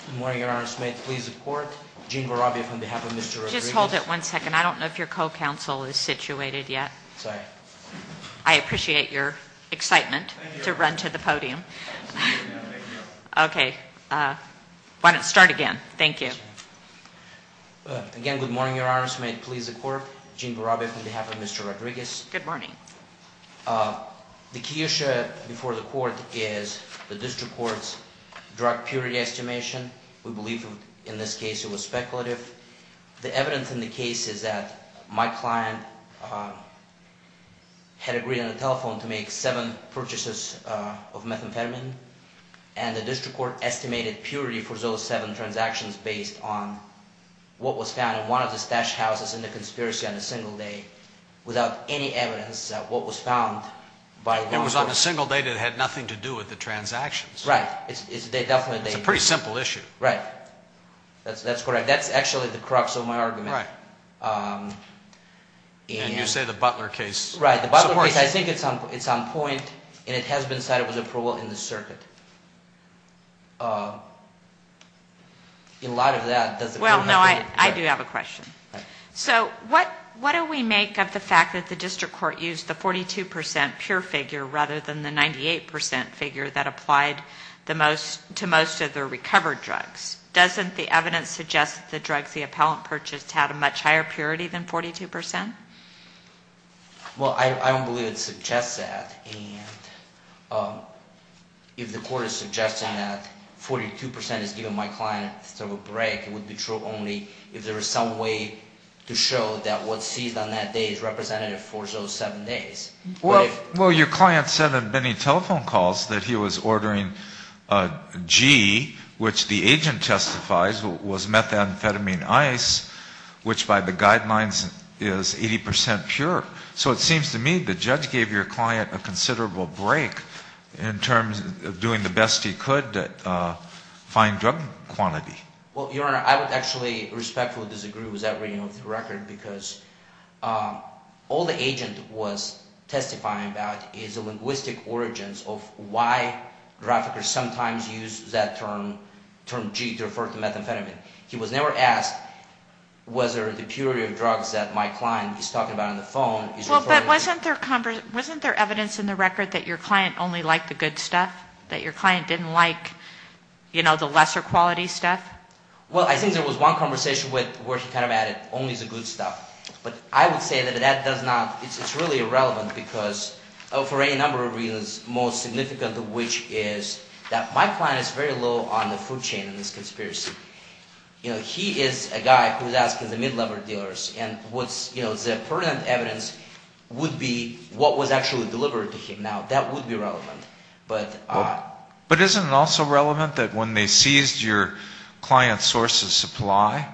Good morning, Your Honor. May it please the Court, Gene Barabia, on behalf of Mr. Rodriguez. Just hold it one second. I don't know if your co-counsel is situated yet. Sorry. I appreciate your excitement to run to the podium. No, thank you. Okay. Why don't you start again. Thank you. Again, good morning, Your Honor. May it please the Court, Gene Barabia, on behalf of Mr. Rodriguez. Good morning. The key issue before the Court is the district court's drug purity estimation. We believe in this case it was speculative. The evidence in the case is that my client had agreed on the telephone to make seven purchases of methamphetamine, and the district court estimated purity for those seven transactions based on what was found in one of the stash houses in the conspiracy on a single day without any evidence of what was found. It was on a single day that had nothing to do with the transactions. Right. It's a pretty simple issue. Right. That's correct. That's actually the crux of my argument. Right. And you say the Butler case supports it. Right. The Butler case, I think it's on point, and it has been cited with approval in the circuit. In light of that, does the Court have any... Well, no, I do have a question. So what do we make of the fact that the district court used the 42% pure figure rather than the 98% figure that applied to most of the recovered drugs? Doesn't the evidence suggest that the drugs the appellant purchased had a much higher purity than 42%? Well, I don't believe it suggests that. And if the Court is suggesting that 42% is giving my client a break, it would be true only if there was some way to show that what's seized on that day is representative for those seven days. Well, your client said in many telephone calls that he was ordering a G, which the agent testifies was methamphetamine ice, which by the guidelines is 80% pure. So it seems to me the judge gave your client a considerable break in terms of doing the best he could to find drug quantity. Well, Your Honor, I would actually respectfully disagree with that reading of the record because all the agent was testifying about is the linguistic origins of why traffickers sometimes use that term, term G, to refer to methamphetamine. He was never asked whether the purity of drugs that my client is talking about on the phone is referring to... Well, but wasn't there evidence in the record that your client only liked the good stuff, that your client didn't like, you know, the lesser quality stuff? Well, I think there was one conversation where he kind of added only the good stuff. But I would say that that does not, it's really irrelevant because for any number of reasons, most significant of which is that my client is very low on the food chain in this conspiracy. You know, he is a guy who's asking the mid-level dealers, and what's, you know, the pertinent evidence would be what was actually delivered to him. Now, that would be relevant, but... Isn't it also relevant that when they seized your client's source of supply,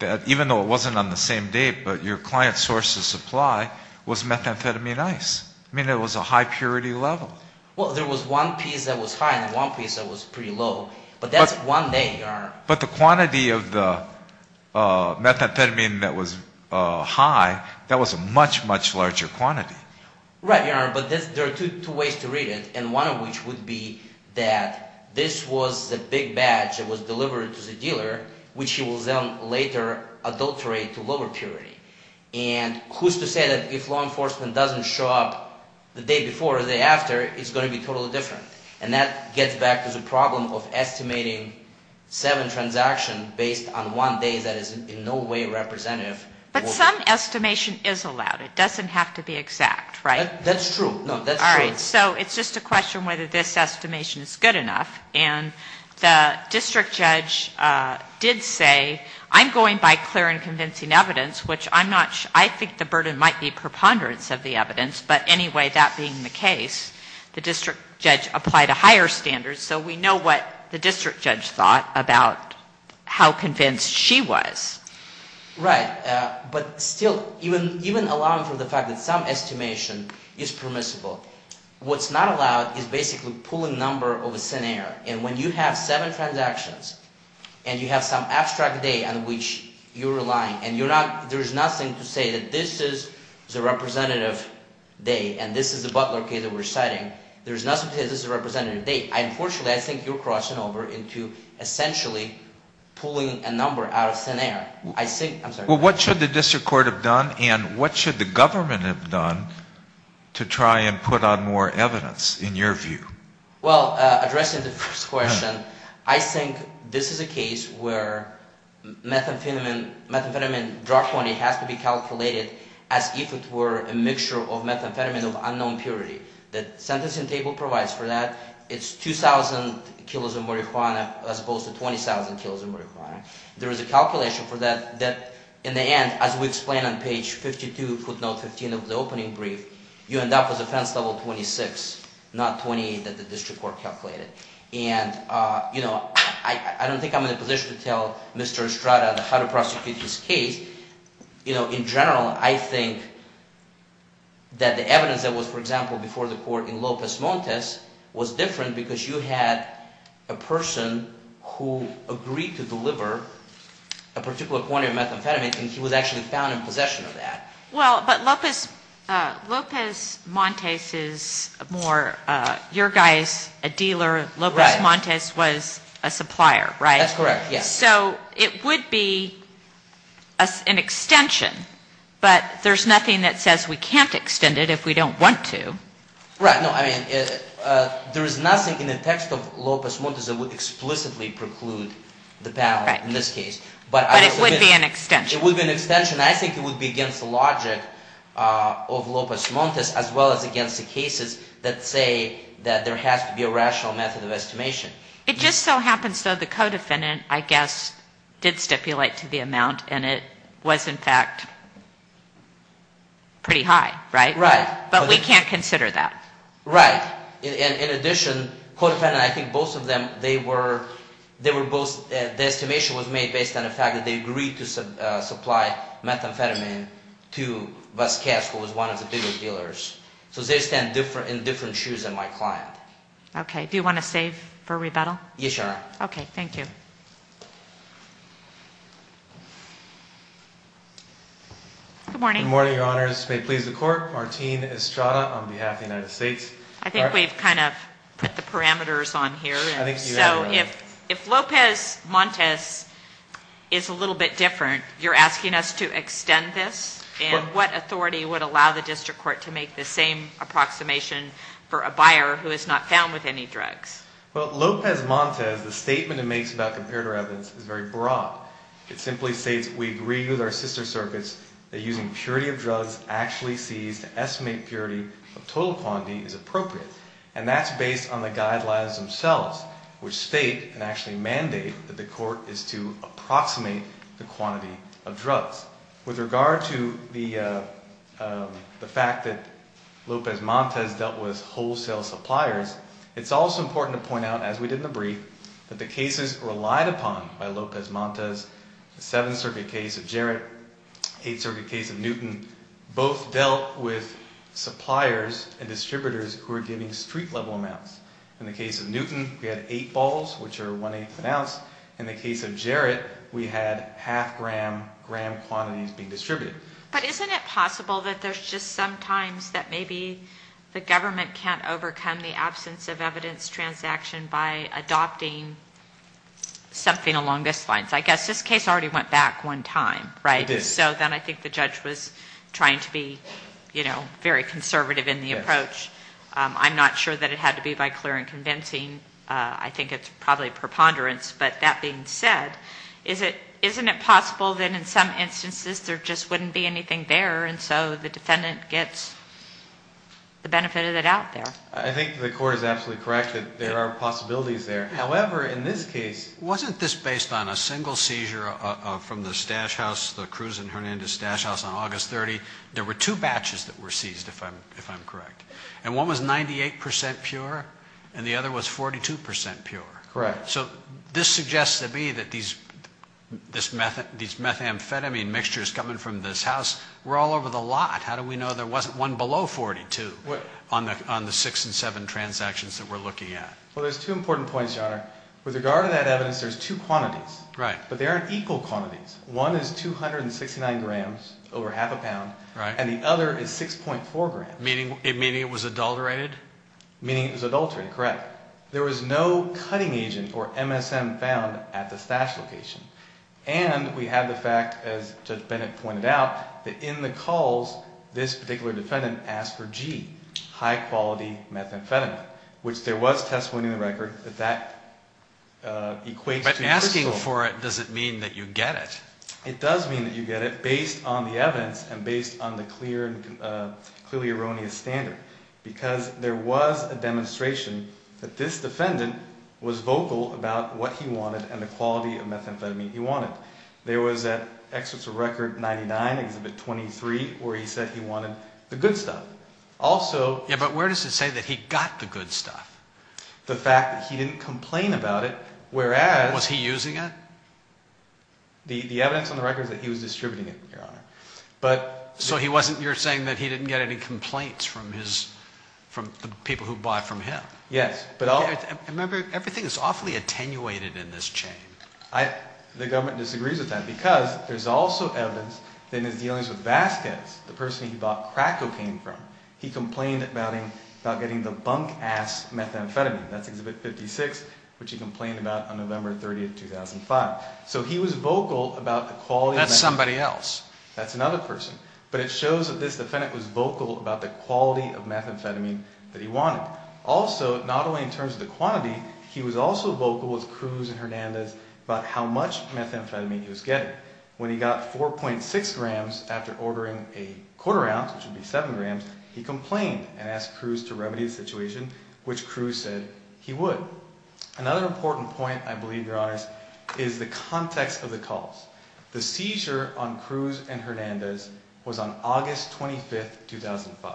that even though it wasn't on the same date, but your client's source of supply was methamphetamine ice? I mean, it was a high purity level. Well, there was one piece that was high and one piece that was pretty low, but that's one day, Your Honor. But the quantity of the methamphetamine that was high, that was a much, much larger quantity. Right, Your Honor, but there are two ways to read it, and one of which would be that this was the big batch that was delivered to the dealer, which he will then later adulterate to lower purity. And who's to say that if law enforcement doesn't show up the day before or the day after, it's going to be totally different. And that gets back to the problem of estimating seven transactions based on one day that is in no way representative... But some estimation is allowed. It doesn't have to be exact, right? That's true. No, that's true. All right. So it's just a question whether this estimation is good enough. And the district judge did say, I'm going by clear and convincing evidence, which I'm not sure, I think the burden might be preponderance of the evidence. But anyway, that being the case, the district judge applied a higher standard, so we know what the district judge thought about how convinced she was. Right. But still, even allowing for the fact that some estimation is permissible, what's not allowed is basically pulling number over thin air. And when you have seven transactions and you have some abstract day on which you're relying and there's nothing to say that this is the representative day and this is the butler case that we're citing, there's nothing to say this is a representative day. Unfortunately, I think you're crossing over into essentially pulling a number out of thin air. Well, what should the district court have done and what should the government have done to try and put on more evidence in your view? Well, addressing the first question, I think this is a case where methamphetamine drug quantity has to be calculated as if it were a mixture of methamphetamine of unknown purity. The sentencing table provides for that. It's 2,000 kilos of marijuana as opposed to 20,000 kilos of marijuana. There is a calculation for that that in the end, as we explain on page 52, footnote 15 of the opening brief, you end up with offense level 26, not 28 that the district court calculated. And I don't think I'm in a position to tell Mr. Estrada how to prosecute this case. In general, I think that the evidence that was, for example, before the court in Lopez Montes was different because you had a person who agreed to deliver a particular quantity of methamphetamine and he was actually found in possession of that. Well, but Lopez Montes is more your guys, a dealer, Lopez Montes was a supplier, right? That's correct, yes. So it would be an extension, but there's nothing that says we can't extend it if we don't want to. Right. No, I mean, there is nothing in the text of Lopez Montes that would explicitly preclude the power in this case. But it would be an extension. It would be an extension. I think it would be against the logic of Lopez Montes as well as against the cases that say that there has to be a rational method of estimation. It just so happens, though, the co-defendant, I guess, did stipulate to the amount and it was, in fact, pretty high, right? Right. But we can't consider that. Right. In addition, co-defendant, I think both of them, they were both, the estimation was made based on the fact that they agreed to supply methamphetamine to Vasquez, who was one of the bigger dealers. So they stand in different shoes than my client. Okay. Do you want to save for rebuttal? Yes, Your Honor. Okay. Thank you. Good morning. Good morning, Your Honors. May it please the Court, Martine Estrada on behalf of the United States. I think we've kind of put the parameters on here. I think you have, Your Honor. So if Lopez Montes is a little bit different, you're asking us to extend this? And what authority would allow the district court to make the same approximation for a buyer who is not found with any drugs? Well, Lopez Montes, the statement it makes about comparator evidence is very broad. It simply states we agree with our sister circuits that using purity of drugs actually sees to estimate purity of total quantity is appropriate. And that's based on the guidelines themselves, which state and actually mandate that the court is to approximate the quantity of drugs. With regard to the fact that Lopez Montes dealt with wholesale suppliers, it's also important to point out, as we did in the brief, that the cases relied upon by Lopez Montes, the Seventh Circuit case of Jarrett, Eighth Circuit case of Newton, both dealt with suppliers and distributors who were giving street-level amounts. In the case of Newton, we had eight balls, which are one-eighth of an ounce. In the case of Jarrett, we had half-gram quantities being distributed. But isn't it possible that there's just sometimes that maybe the government can't overcome the absence of evidence transaction by adopting something along those lines? I guess this case already went back one time, right? It did. So then I think the judge was trying to be, you know, very conservative in the approach. I'm not sure that it had to be by clear and convincing. I think it's probably preponderance. But that being said, isn't it possible that in some instances there just wouldn't be anything there, and so the defendant gets the benefit of it out there? I think the court is absolutely correct that there are possibilities there. However, in this case, wasn't this based on a single seizure from the stash house, the Cruz and Hernandez stash house, on August 30th? There were two batches that were seized, if I'm correct. And one was 98 percent pure, and the other was 42 percent pure. Correct. So this suggests to me that these methamphetamine mixtures coming from this house were all over the lot. How do we know there wasn't one below 42 on the six and seven transactions that we're looking at? Well, there's two important points, Your Honor. With regard to that evidence, there's two quantities. Right. But they aren't equal quantities. One is 269 grams, over half a pound. Right. And the other is 6.4 grams. Meaning it was adulterated? Meaning it was adulterated, correct. There was no cutting agent or MSM found at the stash location. And we have the fact, as Judge Bennett pointed out, that in the calls, this particular defendant asked for G, high-quality methamphetamine, which there was testimony in the record that that equates to crystal. But asking for it, does it mean that you get it? It does mean that you get it, based on the evidence and based on the clear and clearly erroneous standard, because there was a demonstration that this defendant was vocal about what he wanted and the quality of methamphetamine he wanted. There was at Excerpts of Record 99, Exhibit 23, where he said he wanted the good stuff. Also... Yeah, but where does it say that he got the good stuff? The fact that he didn't complain about it, whereas... Was he using it? The evidence on the record is that he was distributing it, Your Honor. So you're saying that he didn't get any complaints from the people who bought from him? Yes. Remember, everything is awfully attenuated in this chain. The government disagrees with that, because there's also evidence that in his dealings with Vasquez, the person he bought crack cocaine from, he complained about getting the bunk-ass methamphetamine. That's Exhibit 56, which he complained about on November 30, 2005. So he was vocal about the quality... That's somebody else. That's another person. But it shows that this defendant was vocal about the quality of methamphetamine that he wanted. Also, not only in terms of the quantity, he was also vocal with Cruz and Hernandez about how much methamphetamine he was getting. When he got 4.6 grams after ordering a quarter ounce, which would be 7 grams, he complained and asked Cruz to remedy the situation, which Cruz said he would. Another important point, I believe, Your Honor, is the context of the calls. The seizure on Cruz and Hernandez was on August 25, 2005.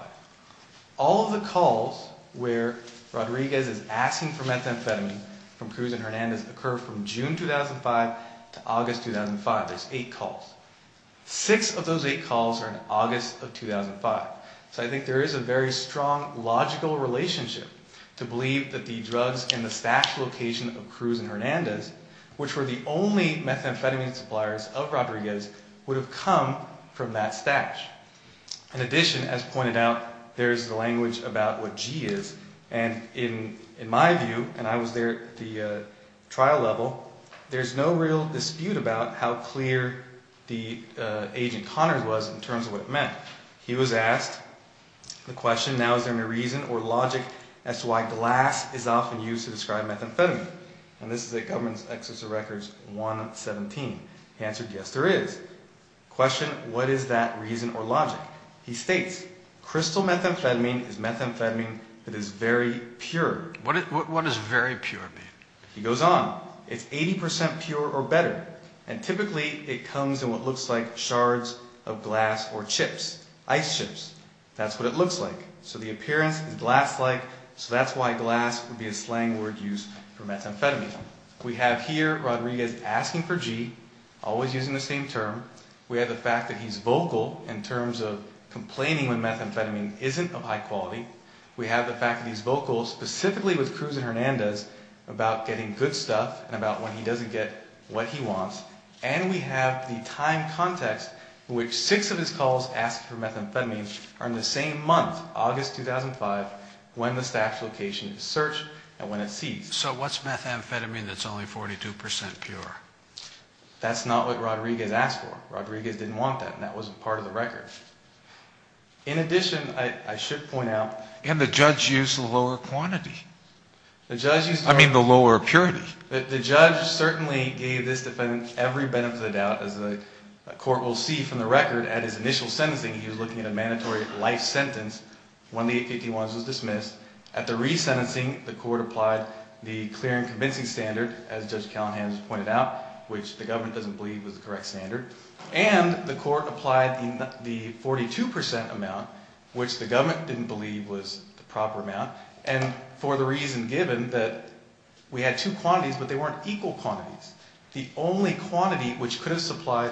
All of the calls where Rodriguez is asking for methamphetamine from Cruz and Hernandez occurred from June 2005 to August 2005. There's eight calls. Six of those eight calls are in August of 2005. So I think there is a very strong logical relationship to believe that the drugs in the stash location of Cruz and Hernandez, which were the only methamphetamine suppliers of Rodriguez, would have come from that stash. In addition, as pointed out, there's the language about what G is. And in my view, and I was there at the trial level, there's no real dispute about how clear the agent Connors was in terms of what it meant. He was asked the question, now is there any reason or logic as to why glass is often used to describe methamphetamine? And this is at Government's Excessive Records 117. He answered, yes, there is. Question, what is that reason or logic? He states, crystal methamphetamine is methamphetamine that is very pure. What does very pure mean? He goes on. It's 80% pure or better. And typically it comes in what looks like shards of glass or chips, ice chips. That's what it looks like. So the appearance is glass-like. So that's why glass would be a slang word used for methamphetamine. We have here Rodriguez asking for G, always using the same term. We have the fact that he's vocal in terms of complaining when methamphetamine isn't of high quality. We have the fact that he's vocal specifically with Cruz and Hernandez about getting good stuff and about when he doesn't get what he wants. And we have the time context in which six of his calls asked for methamphetamine are in the same month, August 2005, when the stash location is searched and when it's seized. So what's methamphetamine that's only 42% pure? That's not what Rodriguez asked for. Rodriguez didn't want that, and that wasn't part of the record. In addition, I should point out. And the judge used the lower quantity. I mean the lower purity. The judge certainly gave this defendant every benefit of the doubt, as the court will see from the record. At his initial sentencing, he was looking at a mandatory life sentence when the 851s was dismissed. At the resentencing, the court applied the clear and convincing standard, as Judge Callahan has pointed out, which the government doesn't believe was the correct standard. And the court applied the 42% amount, which the government didn't believe was the proper amount. And for the reason given that we had two quantities, but they weren't equal quantities. The only quantity which could have supplied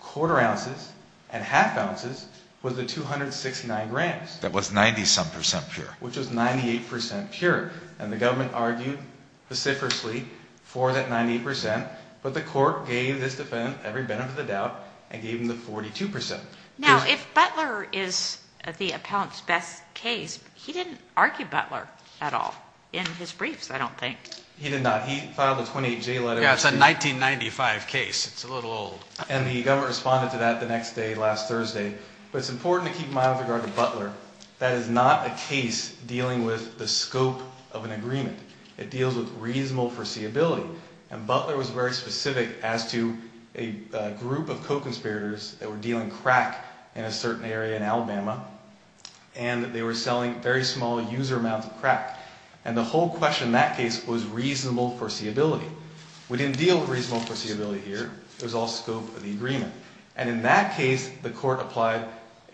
quarter ounces and half ounces was the 269 grams. That was 90-some percent pure. Which was 98% pure. And the government argued vociferously for that 90%. But the court gave this defendant every benefit of the doubt and gave him the 42%. Now, if Butler is the appellant's best case, he didn't argue Butler at all in his briefs, I don't think. He did not. He filed a 28-J letter. Yeah, it's a 1995 case. It's a little old. And the government responded to that the next day, last Thursday. But it's important to keep in mind with regard to Butler. That is not a case dealing with the scope of an agreement. It deals with reasonable foreseeability. And Butler was very specific as to a group of co-conspirators that were dealing crack in a certain area in Alabama. And they were selling very small user amounts of crack. And the whole question in that case was reasonable foreseeability. We didn't deal with reasonable foreseeability here. It was all scope of the agreement. And in that case, the court applied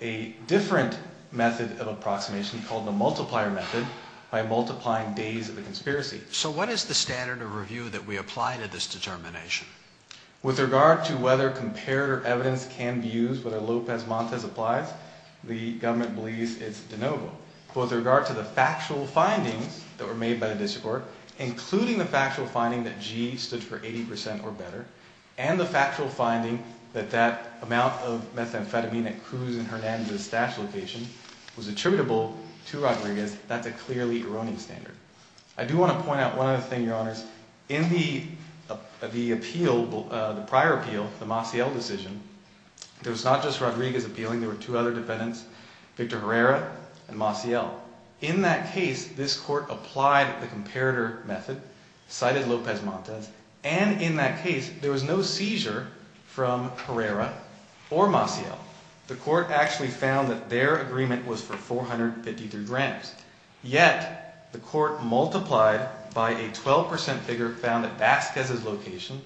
a different method of approximation called the multiplier method by multiplying days of the conspiracy. So what is the standard of review that we apply to this determination? With regard to whether comparative evidence can be used, whether Lopez Montez applies, the government believes it's de novo. But with regard to the factual findings that were made by the district court, including the factual finding that G stood for 80% or better, and the factual finding that that amount of methamphetamine at Cruz and Hernandez' stash location was attributable to Rodriguez, that's a clearly erroneous standard. I do want to point out one other thing, Your Honors. In the prior appeal, the Maciel decision, it was not just Rodriguez appealing. There were two other defendants, Victor Herrera and Maciel. In that case, this court applied the comparator method, cited Lopez Montez. And in that case, there was no seizure from Herrera or Maciel. The court actually found that their agreement was for 453 grams. Yet the court multiplied by a 12% figure found at Vasquez's location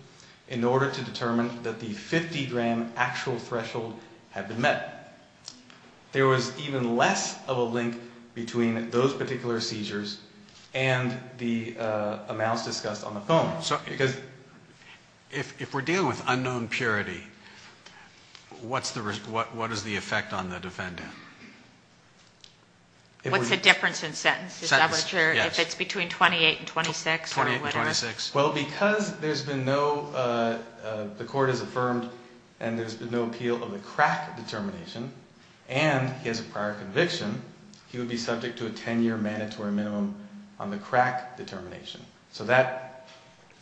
in order to determine that the 50 gram actual threshold had been met. There was even less of a link between those particular seizures and the amounts discussed on the phone. No, because if we're dealing with unknown purity, what is the effect on the defendant? What's the difference in sentences? Sentence, yes. I'm not sure if it's between 28 and 26 or whatever. 28 and 26. Well, because there's been no, the court has affirmed and there's been no appeal of the crack determination, and he has a prior conviction, he would be subject to a 10-year mandatory minimum on the crack determination. So that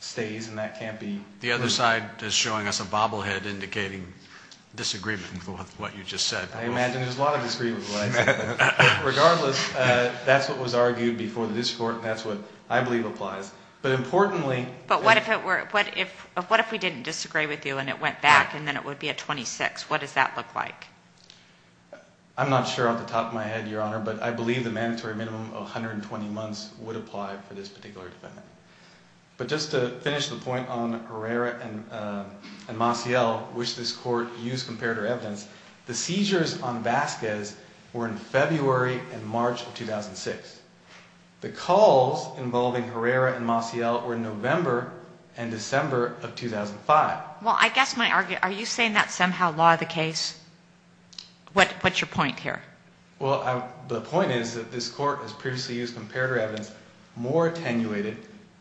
stays and that can't be removed. The other side is showing us a bobblehead indicating disagreement with what you just said. I imagine there's a lot of disagreement. Regardless, that's what was argued before the district court and that's what I believe applies. But importantly – But what if it were, what if we didn't disagree with you and it went back and then it would be a 26? What does that look like? I'm not sure off the top of my head, Your Honor, but I believe the mandatory minimum of 120 months would apply for this particular defendant. But just to finish the point on Herrera and Maciel, which this court used comparative evidence, the seizures on Vasquez were in February and March of 2006. The calls involving Herrera and Maciel were in November and December of 2005. Well, I guess my argument – are you saying that's somehow law of the case? What's your point here? Well, the point is that this court has previously used comparative evidence more attenuated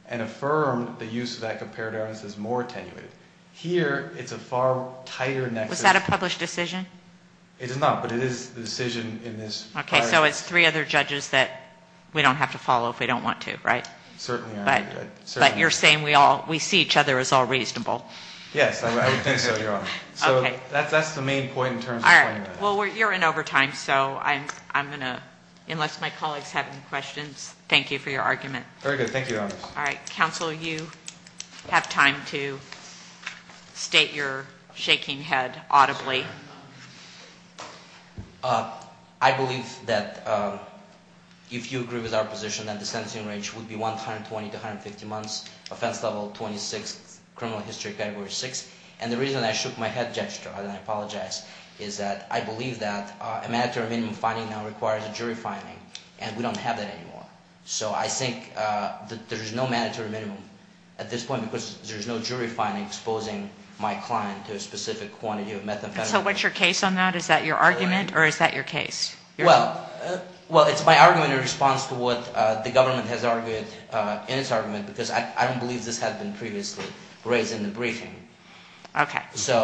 and affirmed the use of that comparative evidence as more attenuated. Here, it's a far tighter nexus. Was that a published decision? It is not, but it is the decision in this prior case. Okay, so it's three other judges that we don't have to follow if we don't want to, right? Certainly, Your Honor. But you're saying we see each other as all reasonable. Yes, I would think so, Your Honor. So that's the main point in terms of explaining that. All right. Well, you're in overtime, so I'm going to – unless my colleagues have any questions, thank you for your argument. Very good. Thank you, Your Honor. All right. Counsel, you have time to state your shaking head audibly. I believe that if you agree with our position that the sentencing range would be 120 to 150 months, offense level 26, criminal history category 6. And the reason I shook my head gesture, and I apologize, is that I believe that a mandatory minimum finding now requires a jury finding, and we don't have that anymore. So I think that there's no mandatory minimum at this point because there's no jury finding exposing my client to a specific quantity of methamphetamine. So what's your case on that? Is that your argument or is that your case? Well, it's my argument in response to what the government has argued in its argument because I don't believe this has been previously raised in the briefing. Okay. So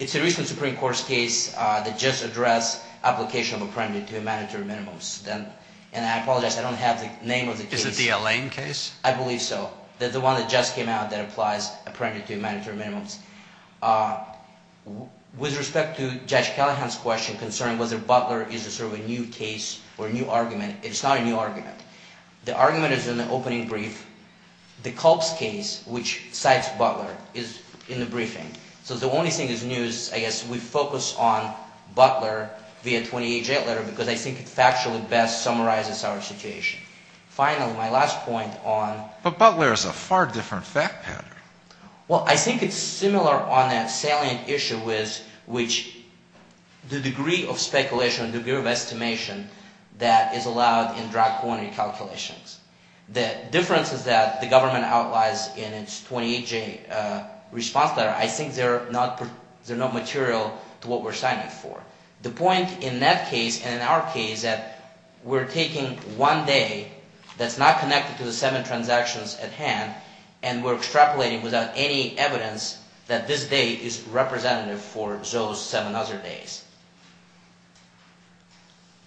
it's a recent Supreme Court's case that just addressed application of a premeditated to a mandatory minimum. And I apologize, I don't have the name of the case. Is it the Allain case? I believe so. That's the one that just came out that applies a premeditated to a mandatory minimum. With respect to Judge Callahan's question concerning whether Butler is sort of a new case or a new argument, it's not a new argument. The argument is in the opening brief. The Culp's case, which cites Butler, is in the briefing. So the only thing that's new is I guess we focus on Butler via 28-J letter because I think it factually best summarizes our situation. Finally, my last point on— But Butler is a far different fact pattern. Well, I think it's similar on a salient issue with which the degree of speculation, degree of estimation that is allowed in drug quantity calculations. The difference is that the government outlines in its 28-J response letter, I think they're not material to what we're signing for. The point in that case and in our case is that we're taking one day that's not connected to the seven transactions at hand and we're extrapolating without any evidence that this day is representative for those seven other days.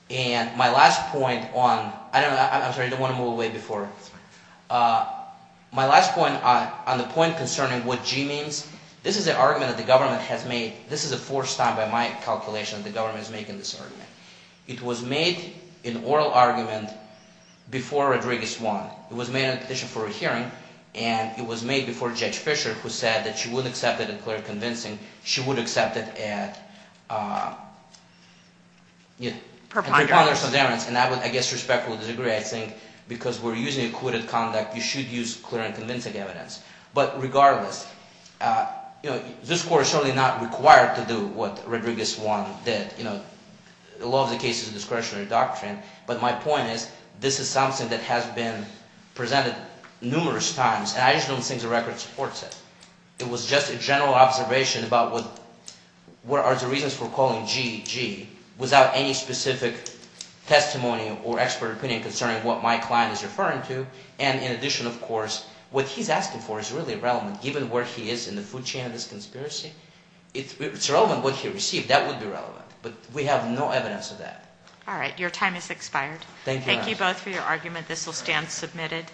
And my last point on—I'm sorry, I don't want to move away before. My last point on the point concerning what G means, this is an argument that the government has made. This is a forced time by my calculation that the government is making this argument. It was made an oral argument before Rodriguez won. It was made in addition for a hearing, and it was made before Judge Fischer, who said that she would accept it in clear and convincing. She would accept it at— Per ponderance. Per ponderance. And I would, I guess, respectfully disagree. I think because we're using acquitted conduct, you should use clear and convincing evidence. But regardless, this Court is certainly not required to do what Rodriguez won did. The law of the case is a discretionary doctrine, but my point is this is something that has been presented numerous times, and I just don't think the record supports it. It was just a general observation about what are the reasons for calling G G without any specific testimony or expert opinion concerning what my client is referring to. And in addition, of course, what he's asking for is really relevant given where he is in the food chain of this conspiracy. It's relevant what he received. That would be relevant. But we have no evidence of that. All right. Your time has expired. Thank you. Thank you both for your argument. This will stand submitted.